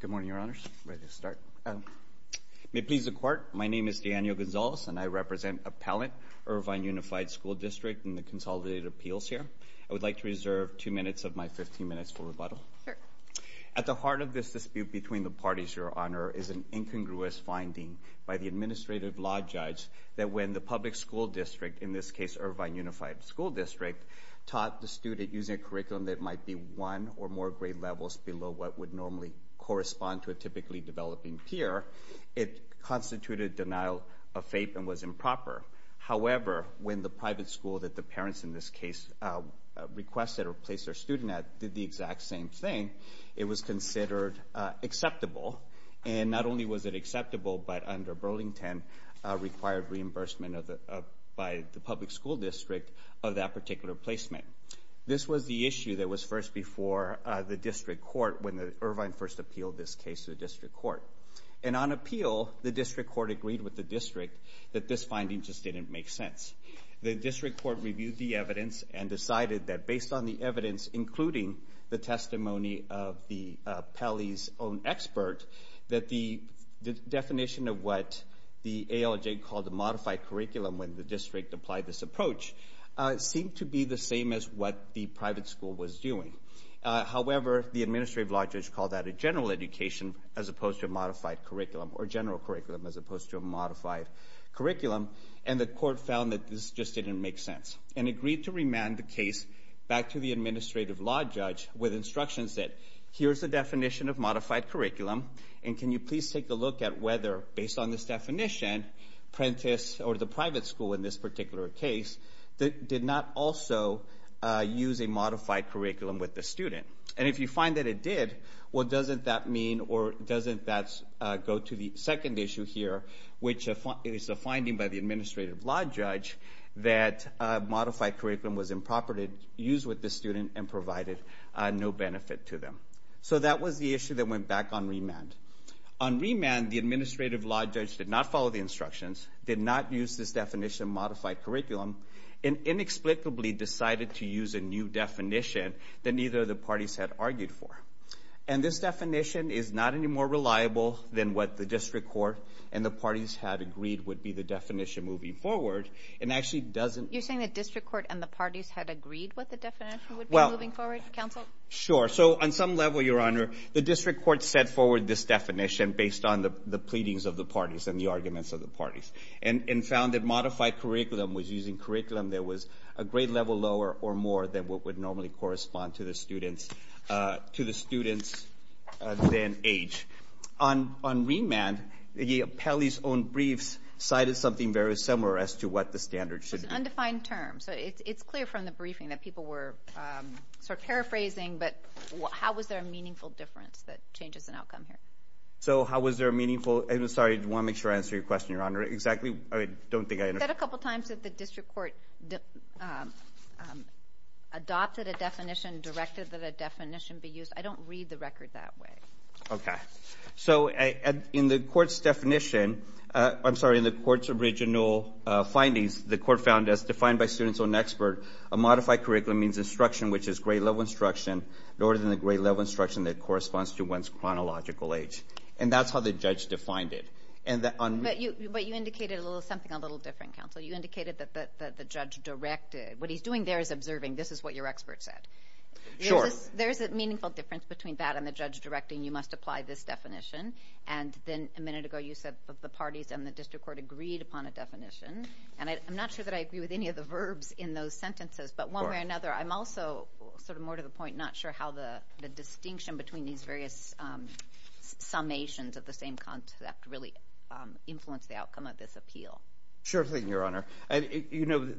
Good morning, Your Honors. Ready to start. May it please the Court, my name is Daniel Gonzalez and I represent Appellant, Irvine Unified School District in the Consolidated Appeals here. I would like to reserve two minutes of my fifteen minutes for rebuttal. At the heart of this dispute between the parties, Your Honor, is an incongruous finding by the Administrative Law Judge that when the public school district, in this case Irvine Unified School District, taught the student using a curriculum that might be one or more grade levels below what would normally correspond to a typically developing peer, it constituted denial of faith and was improper. However, when the private school that the parents in their student at did the exact same thing, it was considered acceptable. And not only was it acceptable, but under Burlington, required reimbursement by the public school district of that particular placement. This was the issue that was first before the District Court when Irvine first appealed this case to the District Court. And on appeal, the District Court agreed with the District that this finding just didn't make sense. The District Court reviewed the evidence and decided that based on the evidence, including the testimony of the Pelley's own expert, that the definition of what the ALJ called a modified curriculum when the district applied this approach seemed to be the same as what the private school was doing. However, the Administrative Law Judge called that a general education as opposed to a modified curriculum, or general curriculum as opposed to a modified curriculum, and the agreed to remand the case back to the Administrative Law Judge with instructions that, here's the definition of modified curriculum, and can you please take a look at whether, based on this definition, Prentice, or the private school in this particular case, did not also use a modified curriculum with the student. And if you find that it did, what doesn't that mean, or doesn't that go to the second issue here, which is a finding by the Administrative Law Judge that a modified curriculum was improper to use with the student and provided no benefit to them. So that was the issue that went back on remand. On remand, the Administrative Law Judge did not follow the instructions, did not use this definition of modified curriculum, and inexplicably decided to use a new definition that neither of the parties had argued for. And this definition is not any more reliable than what the District Court and the parties had agreed would be the definition moving forward, and actually doesn't... You're saying the District Court and the parties had agreed what the definition would be moving forward, Counsel? Sure. So on some level, Your Honor, the District Court set forward this definition based on the pleadings of the parties and the arguments of the parties, and found that modified curriculum was using curriculum that was a grade level lower or more than what would normally correspond to the students than age. On remand, Pelley's own briefs cited something very similar as to what the standard should be. It was an undefined term. So it's clear from the briefing that people were sort of paraphrasing, but how was there a meaningful difference that changes an outcome here? So how was there a meaningful... I'm sorry, I want to make sure I answer your question, You said a couple times that the District Court adopted a definition, directed that a definition be used. I don't read the record that way. Okay. So in the Court's definition... I'm sorry, in the Court's original findings, the Court found as defined by students or an expert, a modified curriculum means instruction which is grade level instruction lower than the grade level instruction that corresponds to one's chronological age. And that's how the judge defined it. But you indicated something a little different, counsel. You indicated that the judge directed... What he's doing there is observing, this is what your expert said. Sure. There's a meaningful difference between that and the judge directing you must apply this definition. And then a minute ago you said that the parties and the District Court agreed upon a definition. And I'm not sure that I agree with any of the verbs in those sentences, but one way or another, I'm also sort of more to the point not sure how the distinction between these various summations of the same concept really influence the outcome of this appeal. Sure thing, Your Honor. When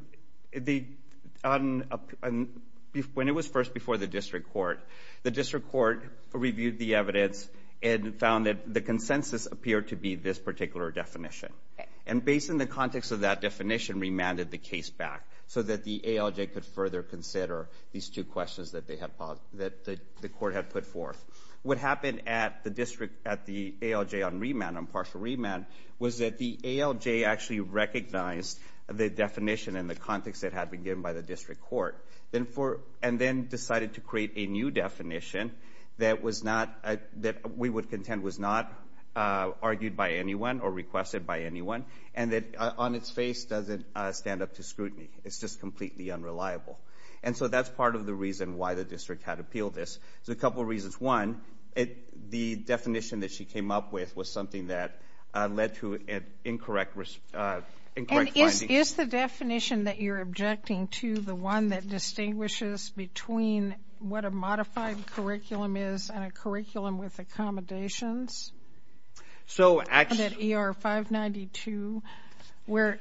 it was first before the District Court, the District Court reviewed the evidence and found that the consensus appeared to be this particular definition. And based on the context of that definition, remanded the case back so that the ALJ could further consider these two questions that the Court had put forth. What happened at the district, at the ALJ on remand, on partial remand, was that the ALJ actually recognized the definition and the context that had been given by the District Court and then decided to create a new definition that we would contend was not argued by anyone or requested by anyone and that on its face doesn't stand up to scrutiny. It's just completely unreliable. And so that's part of the reason why the district had appealed this. There's a couple of reasons. One, the definition that she came up with was something that led to incorrect findings. And is the definition that you're objecting to the one that distinguishes between what a modified curriculum is and a curriculum with accommodations? At ER 592, where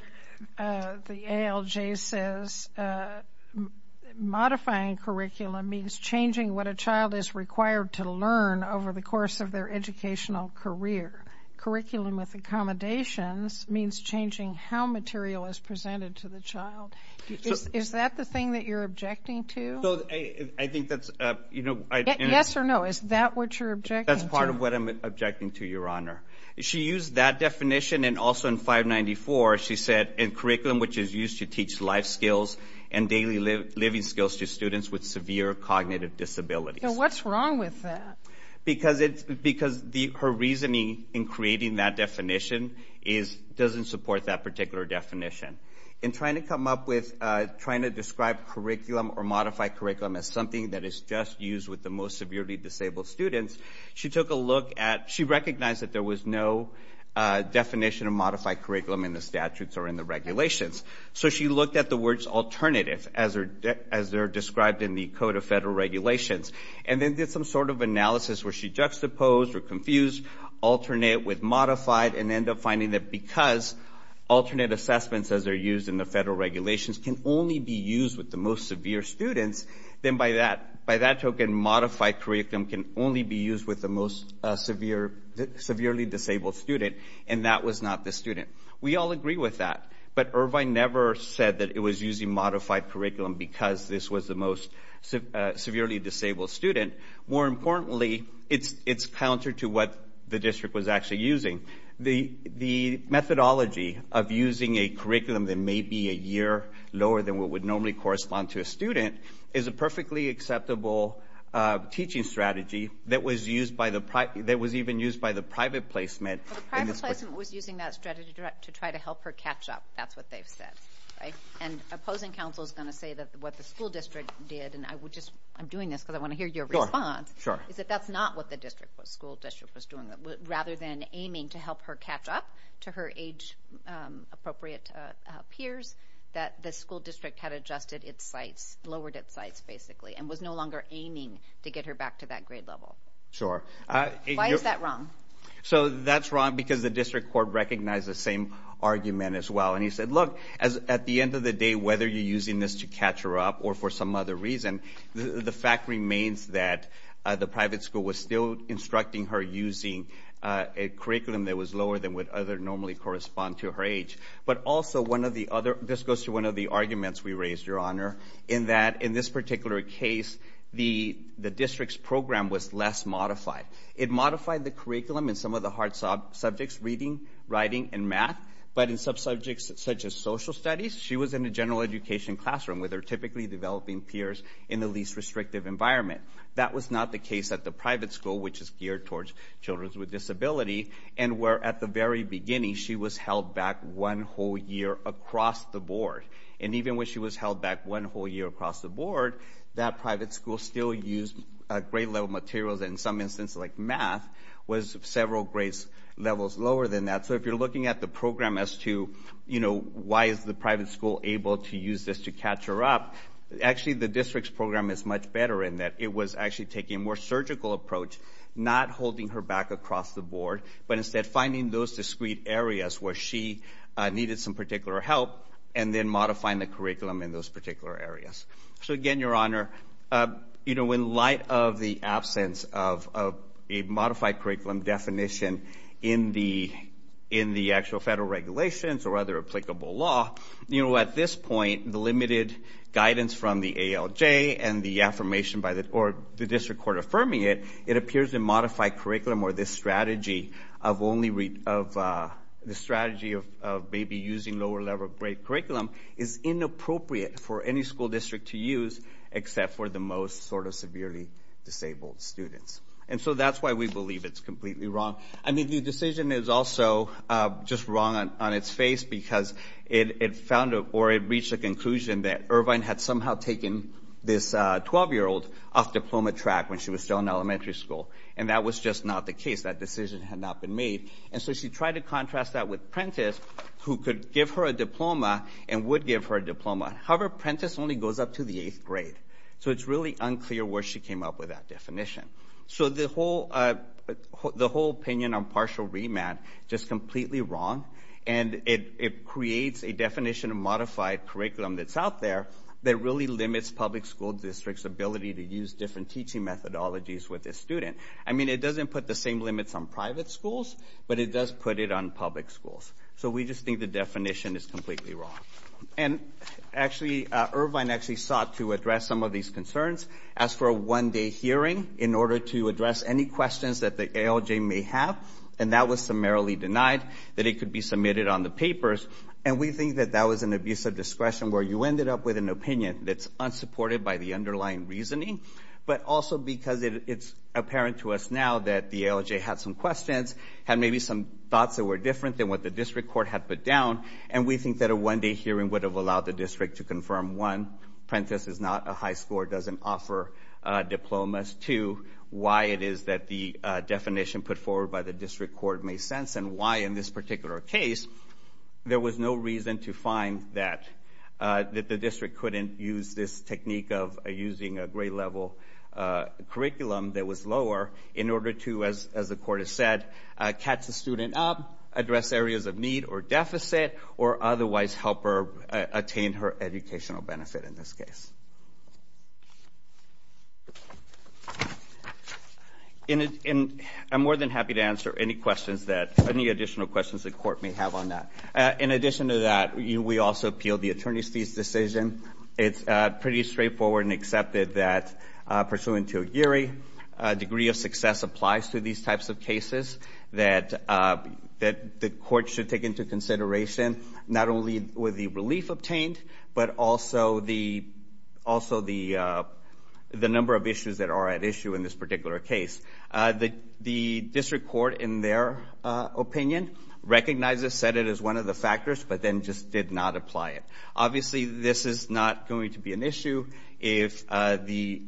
the ALJ says modifying curriculum means changing what a child is required to learn over the course of their educational career. Curriculum with accommodations means changing how material is presented to the child. Is that the thing that you're objecting to? Yes or no, is that what you're objecting to? That's part of what I'm objecting to, Your Honor. She used that definition and also in 594 she said, in curriculum which is used to teach life skills and daily living skills to students with severe cognitive disabilities. What's wrong with that? Because her reasoning in creating that definition doesn't support that particular definition. In trying to come up with, trying to describe curriculum or modify curriculum as something that is just used with the most severely disabled students, she took a look at, she recognized that there was no definition of modify curriculum in the statutes or in the regulations. So she looked at the words alternative as they're described in the Code of Federal Regulations. And then did some sort of analysis where she juxtaposed or confused alternate with modified and ended up finding that because alternate assessments as they're used in the federal regulations can only be used with the most severe students, then by that token modified curriculum can only be used with the most severely disabled student and that was not the student. We all agree with that. But Irvine never said that it was using modified curriculum because this was the most severely disabled student. More importantly, it's counter to what the district was actually using. The methodology of using a curriculum that may be a year lower than what would normally correspond to a student is a perfectly acceptable teaching strategy that was even used by the private placement. The private placement was using that strategy to try to help her catch up. That's what they've said. And opposing counsel is going to say that what the school district did, and I'm doing this because I want to hear your response, is that that's not what the school district was doing. Rather than aiming to help her catch up to her age-appropriate peers, that the school district had adjusted its sights, lowered its sights basically, and was no longer aiming to get her back to that grade level. Sure. Why is that wrong? So that's wrong because the district court recognized the same argument as well. And he said, look, at the end of the day, whether you're using this to catch her up or for some other reason, the fact remains that the private school was still instructing her using a curriculum that was lower than what would normally correspond to her age. But also, this goes to one of the arguments we raised, Your Honor, in that in this particular case, the district's program was less modified. It modified the curriculum in some of the hard subjects, reading, writing, and math. But in sub-subjects such as social studies, she was in a general education classroom where they're typically developing peers in the least restrictive environment. That was not the case at the private school, which is geared towards children with disability, and where at the very beginning, she was held back one whole year across the board. And even when she was held back one whole year across the board, that private school still used grade-level materials. In some instances, like math, was several grade levels lower than that. So if you're looking at the program as to, you know, why is the private school able to use this to catch her up, actually the district's program is much better in that it was actually taking a more surgical approach, not holding her back across the board, but instead finding those discrete areas where she needed some particular help and then modifying the curriculum in those particular areas. So again, Your Honor, you know, in light of the absence of a modified curriculum definition in the actual federal regulations or other applicable law, you know, at this point, the limited guidance from the ALJ and the affirmation by the district court affirming it, it appears a modified curriculum or this strategy of maybe using lower-level grade curriculum is inappropriate for any school district to use except for the most sort of severely disabled students. And so that's why we believe it's completely wrong. I mean, the decision is also just wrong on its face because it found or it reached the conclusion that Irvine had somehow taken this 12-year-old off diploma track when she was still in elementary school, and that was just not the case. That decision had not been made. And so she tried to contrast that with Prentiss, who could give her a diploma and would give her a diploma. However, Prentiss only goes up to the eighth grade, so it's really unclear where she came up with that definition. So the whole opinion on partial remand, just completely wrong, and it creates a definition of modified curriculum that's out there that really limits public school districts' ability to use different teaching methodologies with a student. I mean, it doesn't put the same limits on private schools, but it does put it on public schools. So we just think the definition is completely wrong. And actually, Irvine actually sought to address some of these concerns. Asked for a one-day hearing in order to address any questions that the ALJ may have, and that was summarily denied that it could be submitted on the papers, and we think that that was an abuse of discretion where you ended up with an opinion that's unsupported by the underlying reasoning, but also because it's apparent to us now that the ALJ had some questions, had maybe some thoughts that were different than what the district court had put down, and we think that a one-day hearing would have allowed the district to confirm, one, Prentice is not a high scorer, doesn't offer diplomas, two, why it is that the definition put forward by the district court may sense and why in this particular case there was no reason to find that the district couldn't use this technique of using a grade-level curriculum that was lower in order to, as the court has said, catch the student up, address areas of need or deficit, or otherwise help her attain her educational benefit in this case. And I'm more than happy to answer any questions that, any additional questions the court may have on that. In addition to that, we also appealed the attorney's fees decision. It's pretty straightforward and accepted that, pursuant to a Geary, a degree of success applies to these types of cases that the court should take into consideration, not only with the relief obtained, but also the number of issues that are at issue in this particular case. The district court, in their opinion, recognized this, said it is one of the factors, but then just did not apply it. Obviously, this is not going to be an issue if the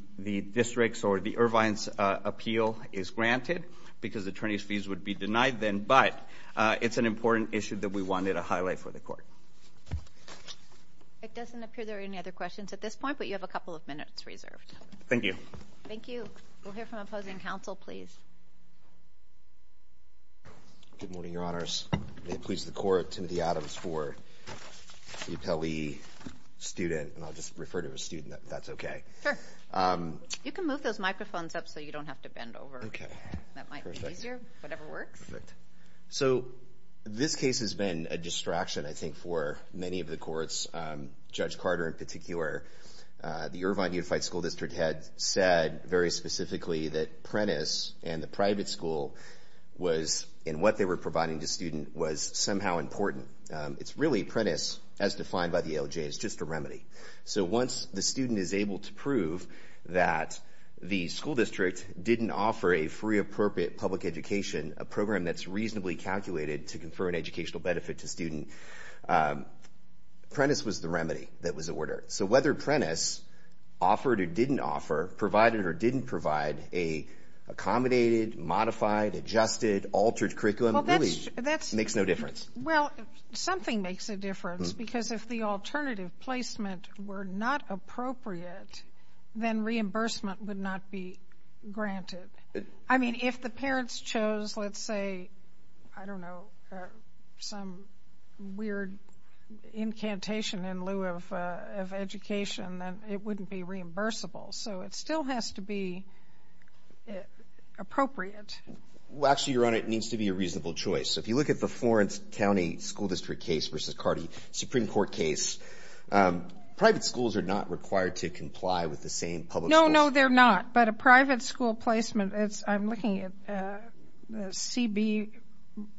district's or the Irvine's appeal is granted, because attorney's fees would be denied then, but it's an important issue that we wanted to highlight for the court. It doesn't appear there are any other questions at this point, but you have a couple of minutes reserved. Thank you. Thank you. We'll hear from opposing counsel, please. Good morning, Your Honors. May it please the Court, Timothy Adams for the appellee student, and I'll just refer to a student if that's okay. Sure. You can move those microphones up so you don't have to bend over. Okay. That might be easier, whatever works. Perfect. So this case has been a distraction, I think, for many of the courts, Judge Carter in particular. The Irvine Unified School District had said very specifically that Prentiss and the private school was, and what they were providing the student was somehow important. It's really Prentiss, as defined by the ALJ, is just a remedy. So once the student is able to prove that the school district didn't offer a free appropriate public education, a program that's reasonably calculated to confer an educational benefit to student, Prentiss was the remedy that was ordered. So whether Prentiss offered or didn't offer, provided or didn't provide a accommodated, modified, adjusted, altered curriculum, really makes no difference. Well, something makes a difference because if the alternative placement were not appropriate, I mean, if the parents chose, let's say, I don't know, some weird incantation in lieu of education, then it wouldn't be reimbursable. So it still has to be appropriate. Well, actually, Your Honor, it needs to be a reasonable choice. If you look at the Florence County School District case versus Cardi Supreme Court case, private schools are not required to comply with the same public schools. No, no, they're not. But a private school placement, I'm looking at CB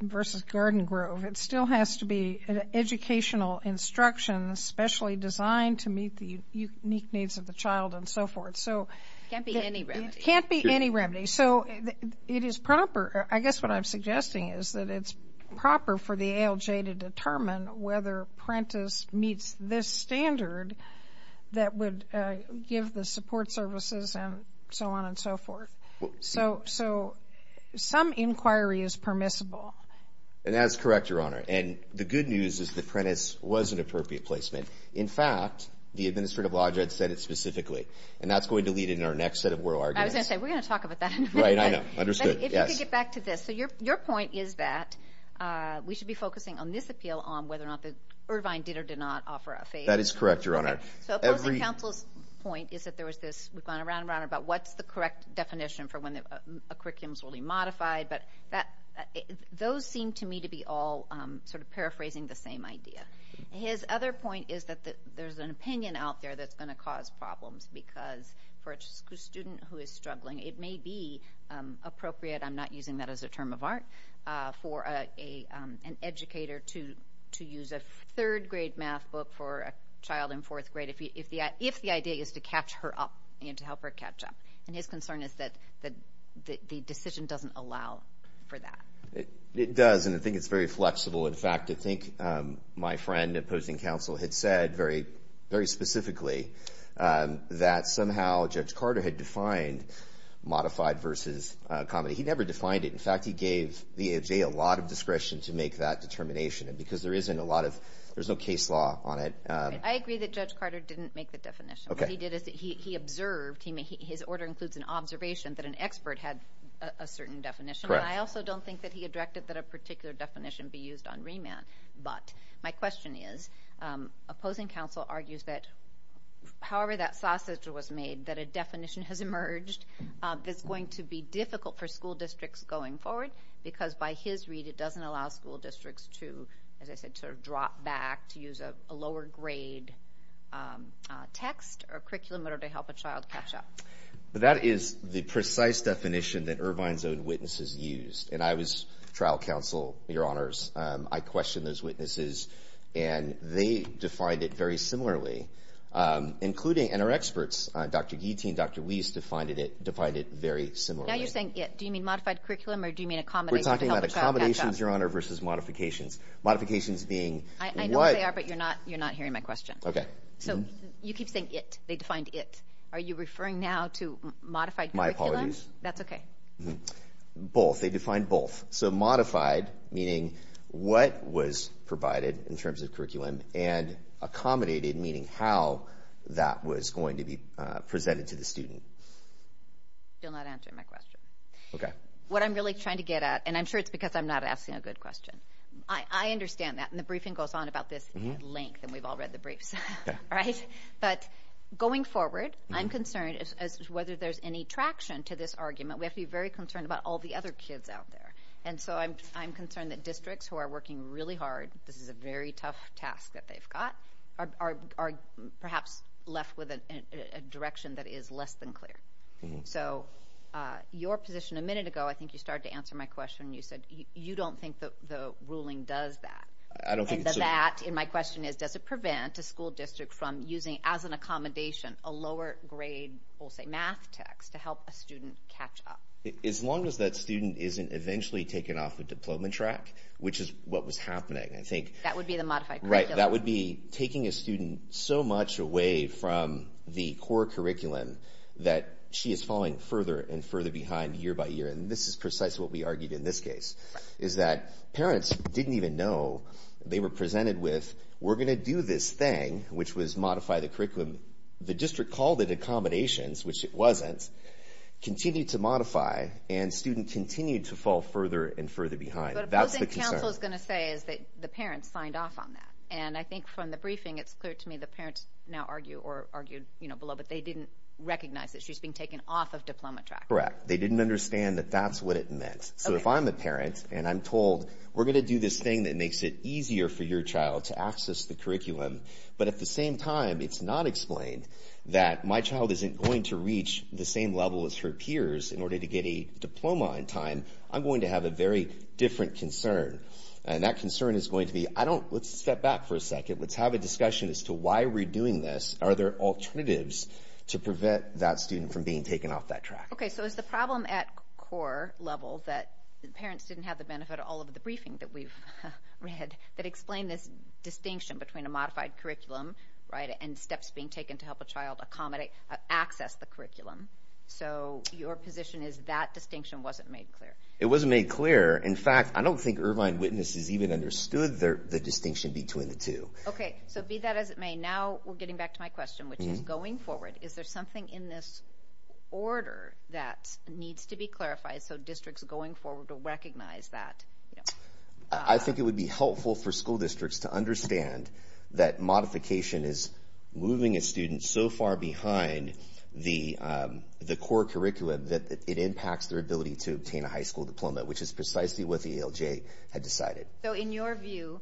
versus Garden Grove, it still has to be an educational instruction specially designed to meet the unique needs of the child and so forth. It can't be any remedy. It can't be any remedy. So it is proper. I guess what I'm suggesting is that it's proper for the ALJ to determine whether Prentiss meets this standard that would give the support services and so on and so forth. So some inquiry is permissible. And that's correct, Your Honor. And the good news is that Prentiss was an appropriate placement. In fact, the administrative law judge said it specifically. And that's going to lead into our next set of oral arguments. I was going to say, we're going to talk about that in a minute. Right, I know. Understood. If you could get back to this. So your point is that we should be focusing on this appeal on whether or not the Irvine did or did not offer a favor. That is correct, Your Honor. So opposing counsel's point is that there was this, we've gone around and around about what's the correct definition for when a curriculum is going to be modified. But those seem to me to be all sort of paraphrasing the same idea. His other point is that there's an opinion out there that's going to cause problems because for a student who is struggling, it may be appropriate, I'm not using that as a term of art, for an educator to use a third-grade math book for a child in fourth grade if the idea is to catch her up, you know, to help her catch up. And his concern is that the decision doesn't allow for that. It does, and I think it's very flexible. In fact, I think my friend, opposing counsel, had said very specifically that somehow Judge Carter had defined modified versus comedy. He never defined it. In fact, he gave VA a lot of discretion to make that determination because there isn't a lot of, there's no case law on it. I agree that Judge Carter didn't make the definition. Okay. What he did is he observed, his order includes an observation that an expert had a certain definition. Correct. And I also don't think that he directed that a particular definition be used on remand. But my question is, opposing counsel argues that however that sausage was made, that a definition has emerged that's going to be difficult for school districts going forward because by his read it doesn't allow school districts to, as I said, sort of drop back, to use a lower-grade text or curriculum in order to help a child catch up. But that is the precise definition that Irvine's own witnesses used. And I was trial counsel, Your Honors. I questioned those witnesses, and they defined it very similarly, including, and our experts, Dr. Guitti and Dr. Weiss, defined it very similarly. Now you're saying it. Do you mean modified curriculum, or do you mean accommodations to help a child catch up? We're talking about accommodations, Your Honor, versus modifications. Modifications being what? I know what they are, but you're not hearing my question. Okay. So you keep saying it. They defined it. Are you referring now to modified curriculum? My apologies. That's okay. Both. They defined both. So modified, meaning what was provided in terms of curriculum, and accommodated, meaning how that was going to be presented to the student. You're not answering my question. Okay. What I'm really trying to get at, and I'm sure it's because I'm not asking a good question. I understand that, and the briefing goes on about this at length, and we've all read the briefs, right? But going forward, I'm concerned as to whether there's any traction to this argument. We have to be very concerned about all the other kids out there. And so I'm concerned that districts who are working really hard, this is a very tough task that they've got, are perhaps left with a direction that is less than clear. So your position a minute ago, I think you started to answer my question. You said you don't think the ruling does that. I don't think it's a rule. And that, and my question is, does it prevent a school district from using, as an accommodation, a lower-grade, we'll say, math text to help a student catch up? As long as that student isn't eventually taken off the diploma track, which is what was happening, I think. That would be the modified curriculum. Right. That would be taking a student so much away from the core curriculum that she is falling further and further behind year by year. And this is precisely what we argued in this case, is that parents didn't even know they were presented with, we're going to do this thing, which was modify the curriculum. The district called it accommodations, which it wasn't, continued to modify, and student continued to fall further and further behind. That's the concern. What I think counsel is going to say is that the parents signed off on that. And I think from the briefing, it's clear to me the parents now argue or argued below, but they didn't recognize that she's being taken off of diploma track. Correct. They didn't understand that that's what it meant. So if I'm a parent and I'm told, we're going to do this thing that makes it easier for your child to access the curriculum, but at the same time it's not explained that my child isn't going to reach the same level as her peers in order to get a diploma in time, I'm going to have a very different concern. And that concern is going to be, let's step back for a second. Let's have a discussion as to why we're doing this. Are there alternatives to prevent that student from being taken off that track? Okay. So is the problem at core level that parents didn't have the benefit of all of the briefing that we've read that explain this distinction between a modified curriculum and steps being taken to help a child access the curriculum? So your position is that distinction wasn't made clear. It wasn't made clear. In fact, I don't think Irvine witnesses even understood the distinction between the two. Okay. So be that as it may, now we're getting back to my question, which is going forward, is there something in this order that needs to be clarified so districts going forward will recognize that? I think it would be helpful for school districts to understand that modification is moving a student so far behind the core curriculum that it impacts their ability to obtain a high school diploma, which is precisely what the ALJ had decided. So in your view,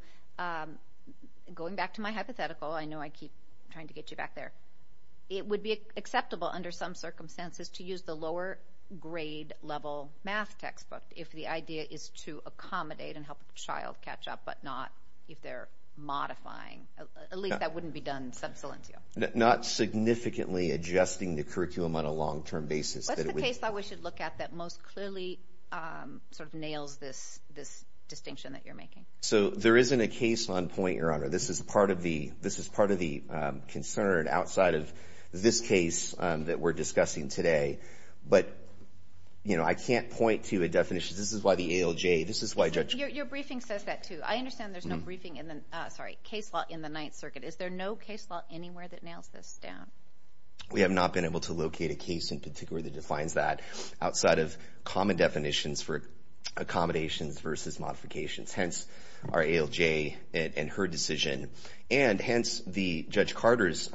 going back to my hypothetical, I know I keep trying to get you back there, but it would be acceptable under some circumstances to use the lower grade level math textbook if the idea is to accommodate and help a child catch up, but not if they're modifying. At least that wouldn't be done sub salientio. Not significantly adjusting the curriculum on a long-term basis. What's the case that we should look at that most clearly sort of nails this distinction that you're making? So there isn't a case on point, Your Honor. This is part of the concern outside of this case that we're discussing today. But, you know, I can't point to a definition. This is why the ALJ, this is why Judge- Your briefing says that too. I understand there's no briefing in the, sorry, case law in the Ninth Circuit. Is there no case law anywhere that nails this down? We have not been able to locate a case in particular that defines that outside of common definitions for accommodations versus modifications. Hence, our ALJ and her decision. And hence, the Judge Carter's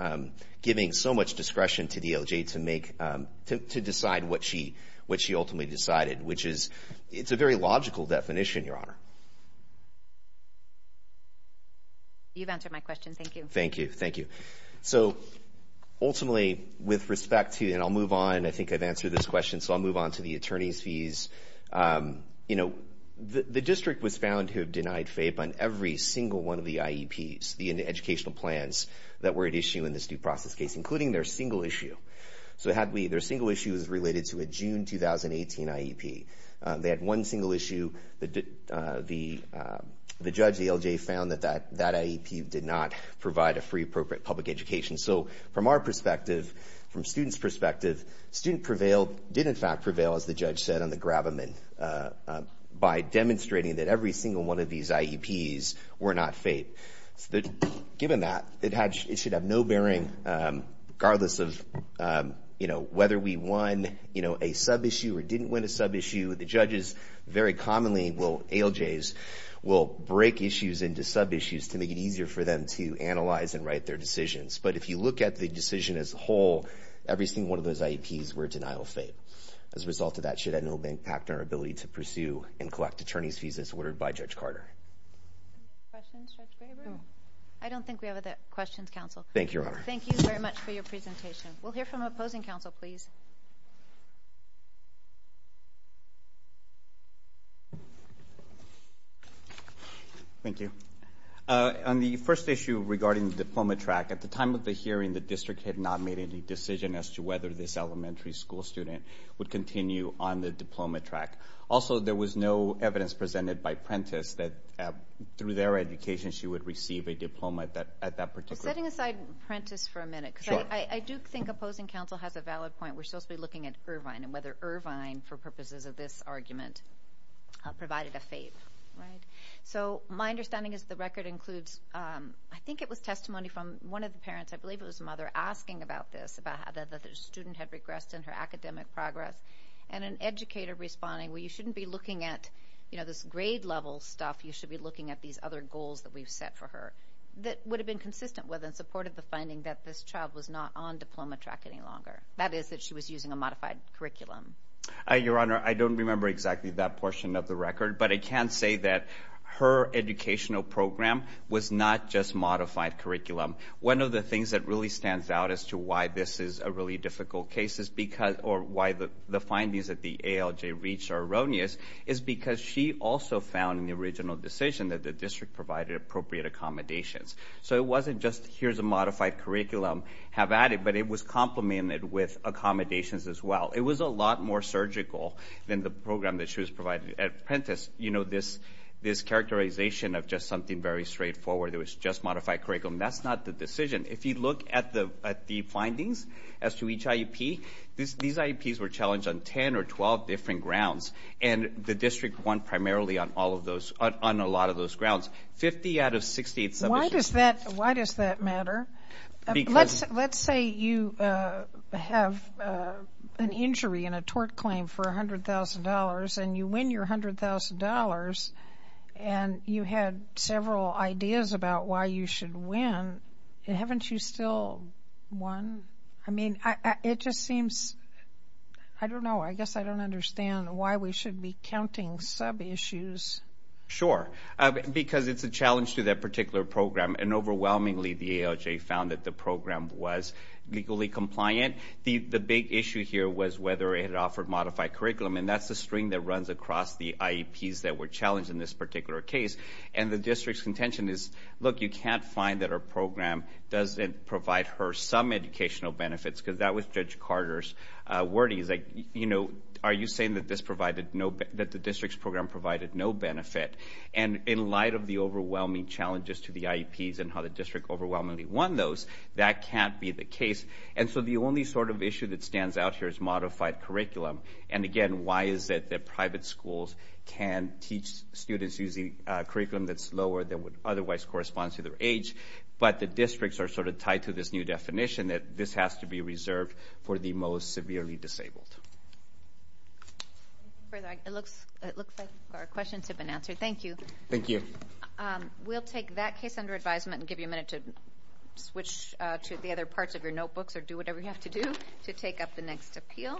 giving so much discretion to the ALJ to make, to decide what she ultimately decided, which is, it's a very logical definition, Your Honor. You've answered my question. Thank you. Thank you. Thank you. So, ultimately, with respect to, and I'll move on. I think I've answered this question, so I'll move on to the attorney's fees. You know, the district was found to have denied FAPE on every single one of the IEPs, the educational plans that were at issue in this due process case, including their single issue. So, their single issue is related to a June 2018 IEP. They had one single issue. The judge, the ALJ, found that that IEP did not provide a free public education. So, from our perspective, from students' perspective, student prevailed, did, in fact, prevail, as the judge said, on the grab-a-min by demonstrating that every single one of these IEPs were not FAPE. Given that, it should have no bearing, regardless of, you know, whether we won, you know, a sub-issue or didn't win a sub-issue. The judges very commonly will, ALJs, will break issues into sub-issues to make it easier for them to analyze and write their decisions. But if you look at the decision as a whole, every single one of those IEPs were denial of FAPE. As a result of that, it should have no impact on our ability to pursue and collect attorney's fees, as ordered by Judge Carter. Questions, Judge Graber? I don't think we have other questions, Counsel. Thank you, Your Honor. Thank you very much for your presentation. We'll hear from the opposing counsel, please. Thank you. On the first issue regarding the diploma track, at the time of the hearing, the district had not made any decision as to whether this elementary school student would continue on the diploma track. Also, there was no evidence presented by Prentiss that, through their education, she would receive a diploma at that particular... Setting aside Prentiss for a minute, because I do think opposing counsel has a valid point. We're supposed to be looking at Irvine and whether Irvine, for purposes of this argument, provided a FAPE, right? So my understanding is the record includes, I think it was testimony from one of the parents, I believe it was a mother, asking about this, about how the student had regressed in her academic progress, and an educator responding, well, you shouldn't be looking at this grade-level stuff. You should be looking at these other goals that we've set for her, that would have been consistent with and supported the finding that this child was not on diploma track any longer. That is, that she was using a modified curriculum. But I can say that her educational program was not just modified curriculum. One of the things that really stands out as to why this is a really difficult case, or why the findings that the ALJ reached are erroneous, is because she also found in the original decision that the district provided appropriate accommodations. So it wasn't just, here's a modified curriculum, have at it, but it was complemented with accommodations as well. It was a lot more surgical than the program that she was provided at Prentice. You know, this characterization of just something very straightforward, it was just modified curriculum, that's not the decision. If you look at the findings as to each IEP, these IEPs were challenged on 10 or 12 different grounds, and the district won primarily on a lot of those grounds. 50 out of 68 submissions. Why does that matter? Let's say you have an injury and a tort claim for $100,000, and you win your $100,000, and you had several ideas about why you should win, haven't you still won? I mean, it just seems, I don't know, I guess I don't understand why we should be counting sub-issues. Sure, because it's a challenge to that particular program, and overwhelmingly the ALJ found that the program was legally compliant. The big issue here was whether it offered modified curriculum, and that's the string that runs across the IEPs that were challenged in this particular case. And the district's contention is, look, you can't find that our program doesn't provide her some educational benefits, because that was Judge Carter's wording. He's like, you know, are you saying that the district's program provided no benefit? And in light of the overwhelming challenges to the IEPs and how the district overwhelmingly won those, that can't be the case. And so the only sort of issue that stands out here is modified curriculum. And, again, why is it that private schools can teach students using a curriculum that's lower than what otherwise corresponds to their age, but the districts are sort of tied to this new definition that this has to be reserved for the most severely disabled? It looks like our questions have been answered. Thank you. Thank you. We'll take that case under advisement and give you a minute to switch to the other parts of your notebooks or do whatever you have to do to take up the next appeal.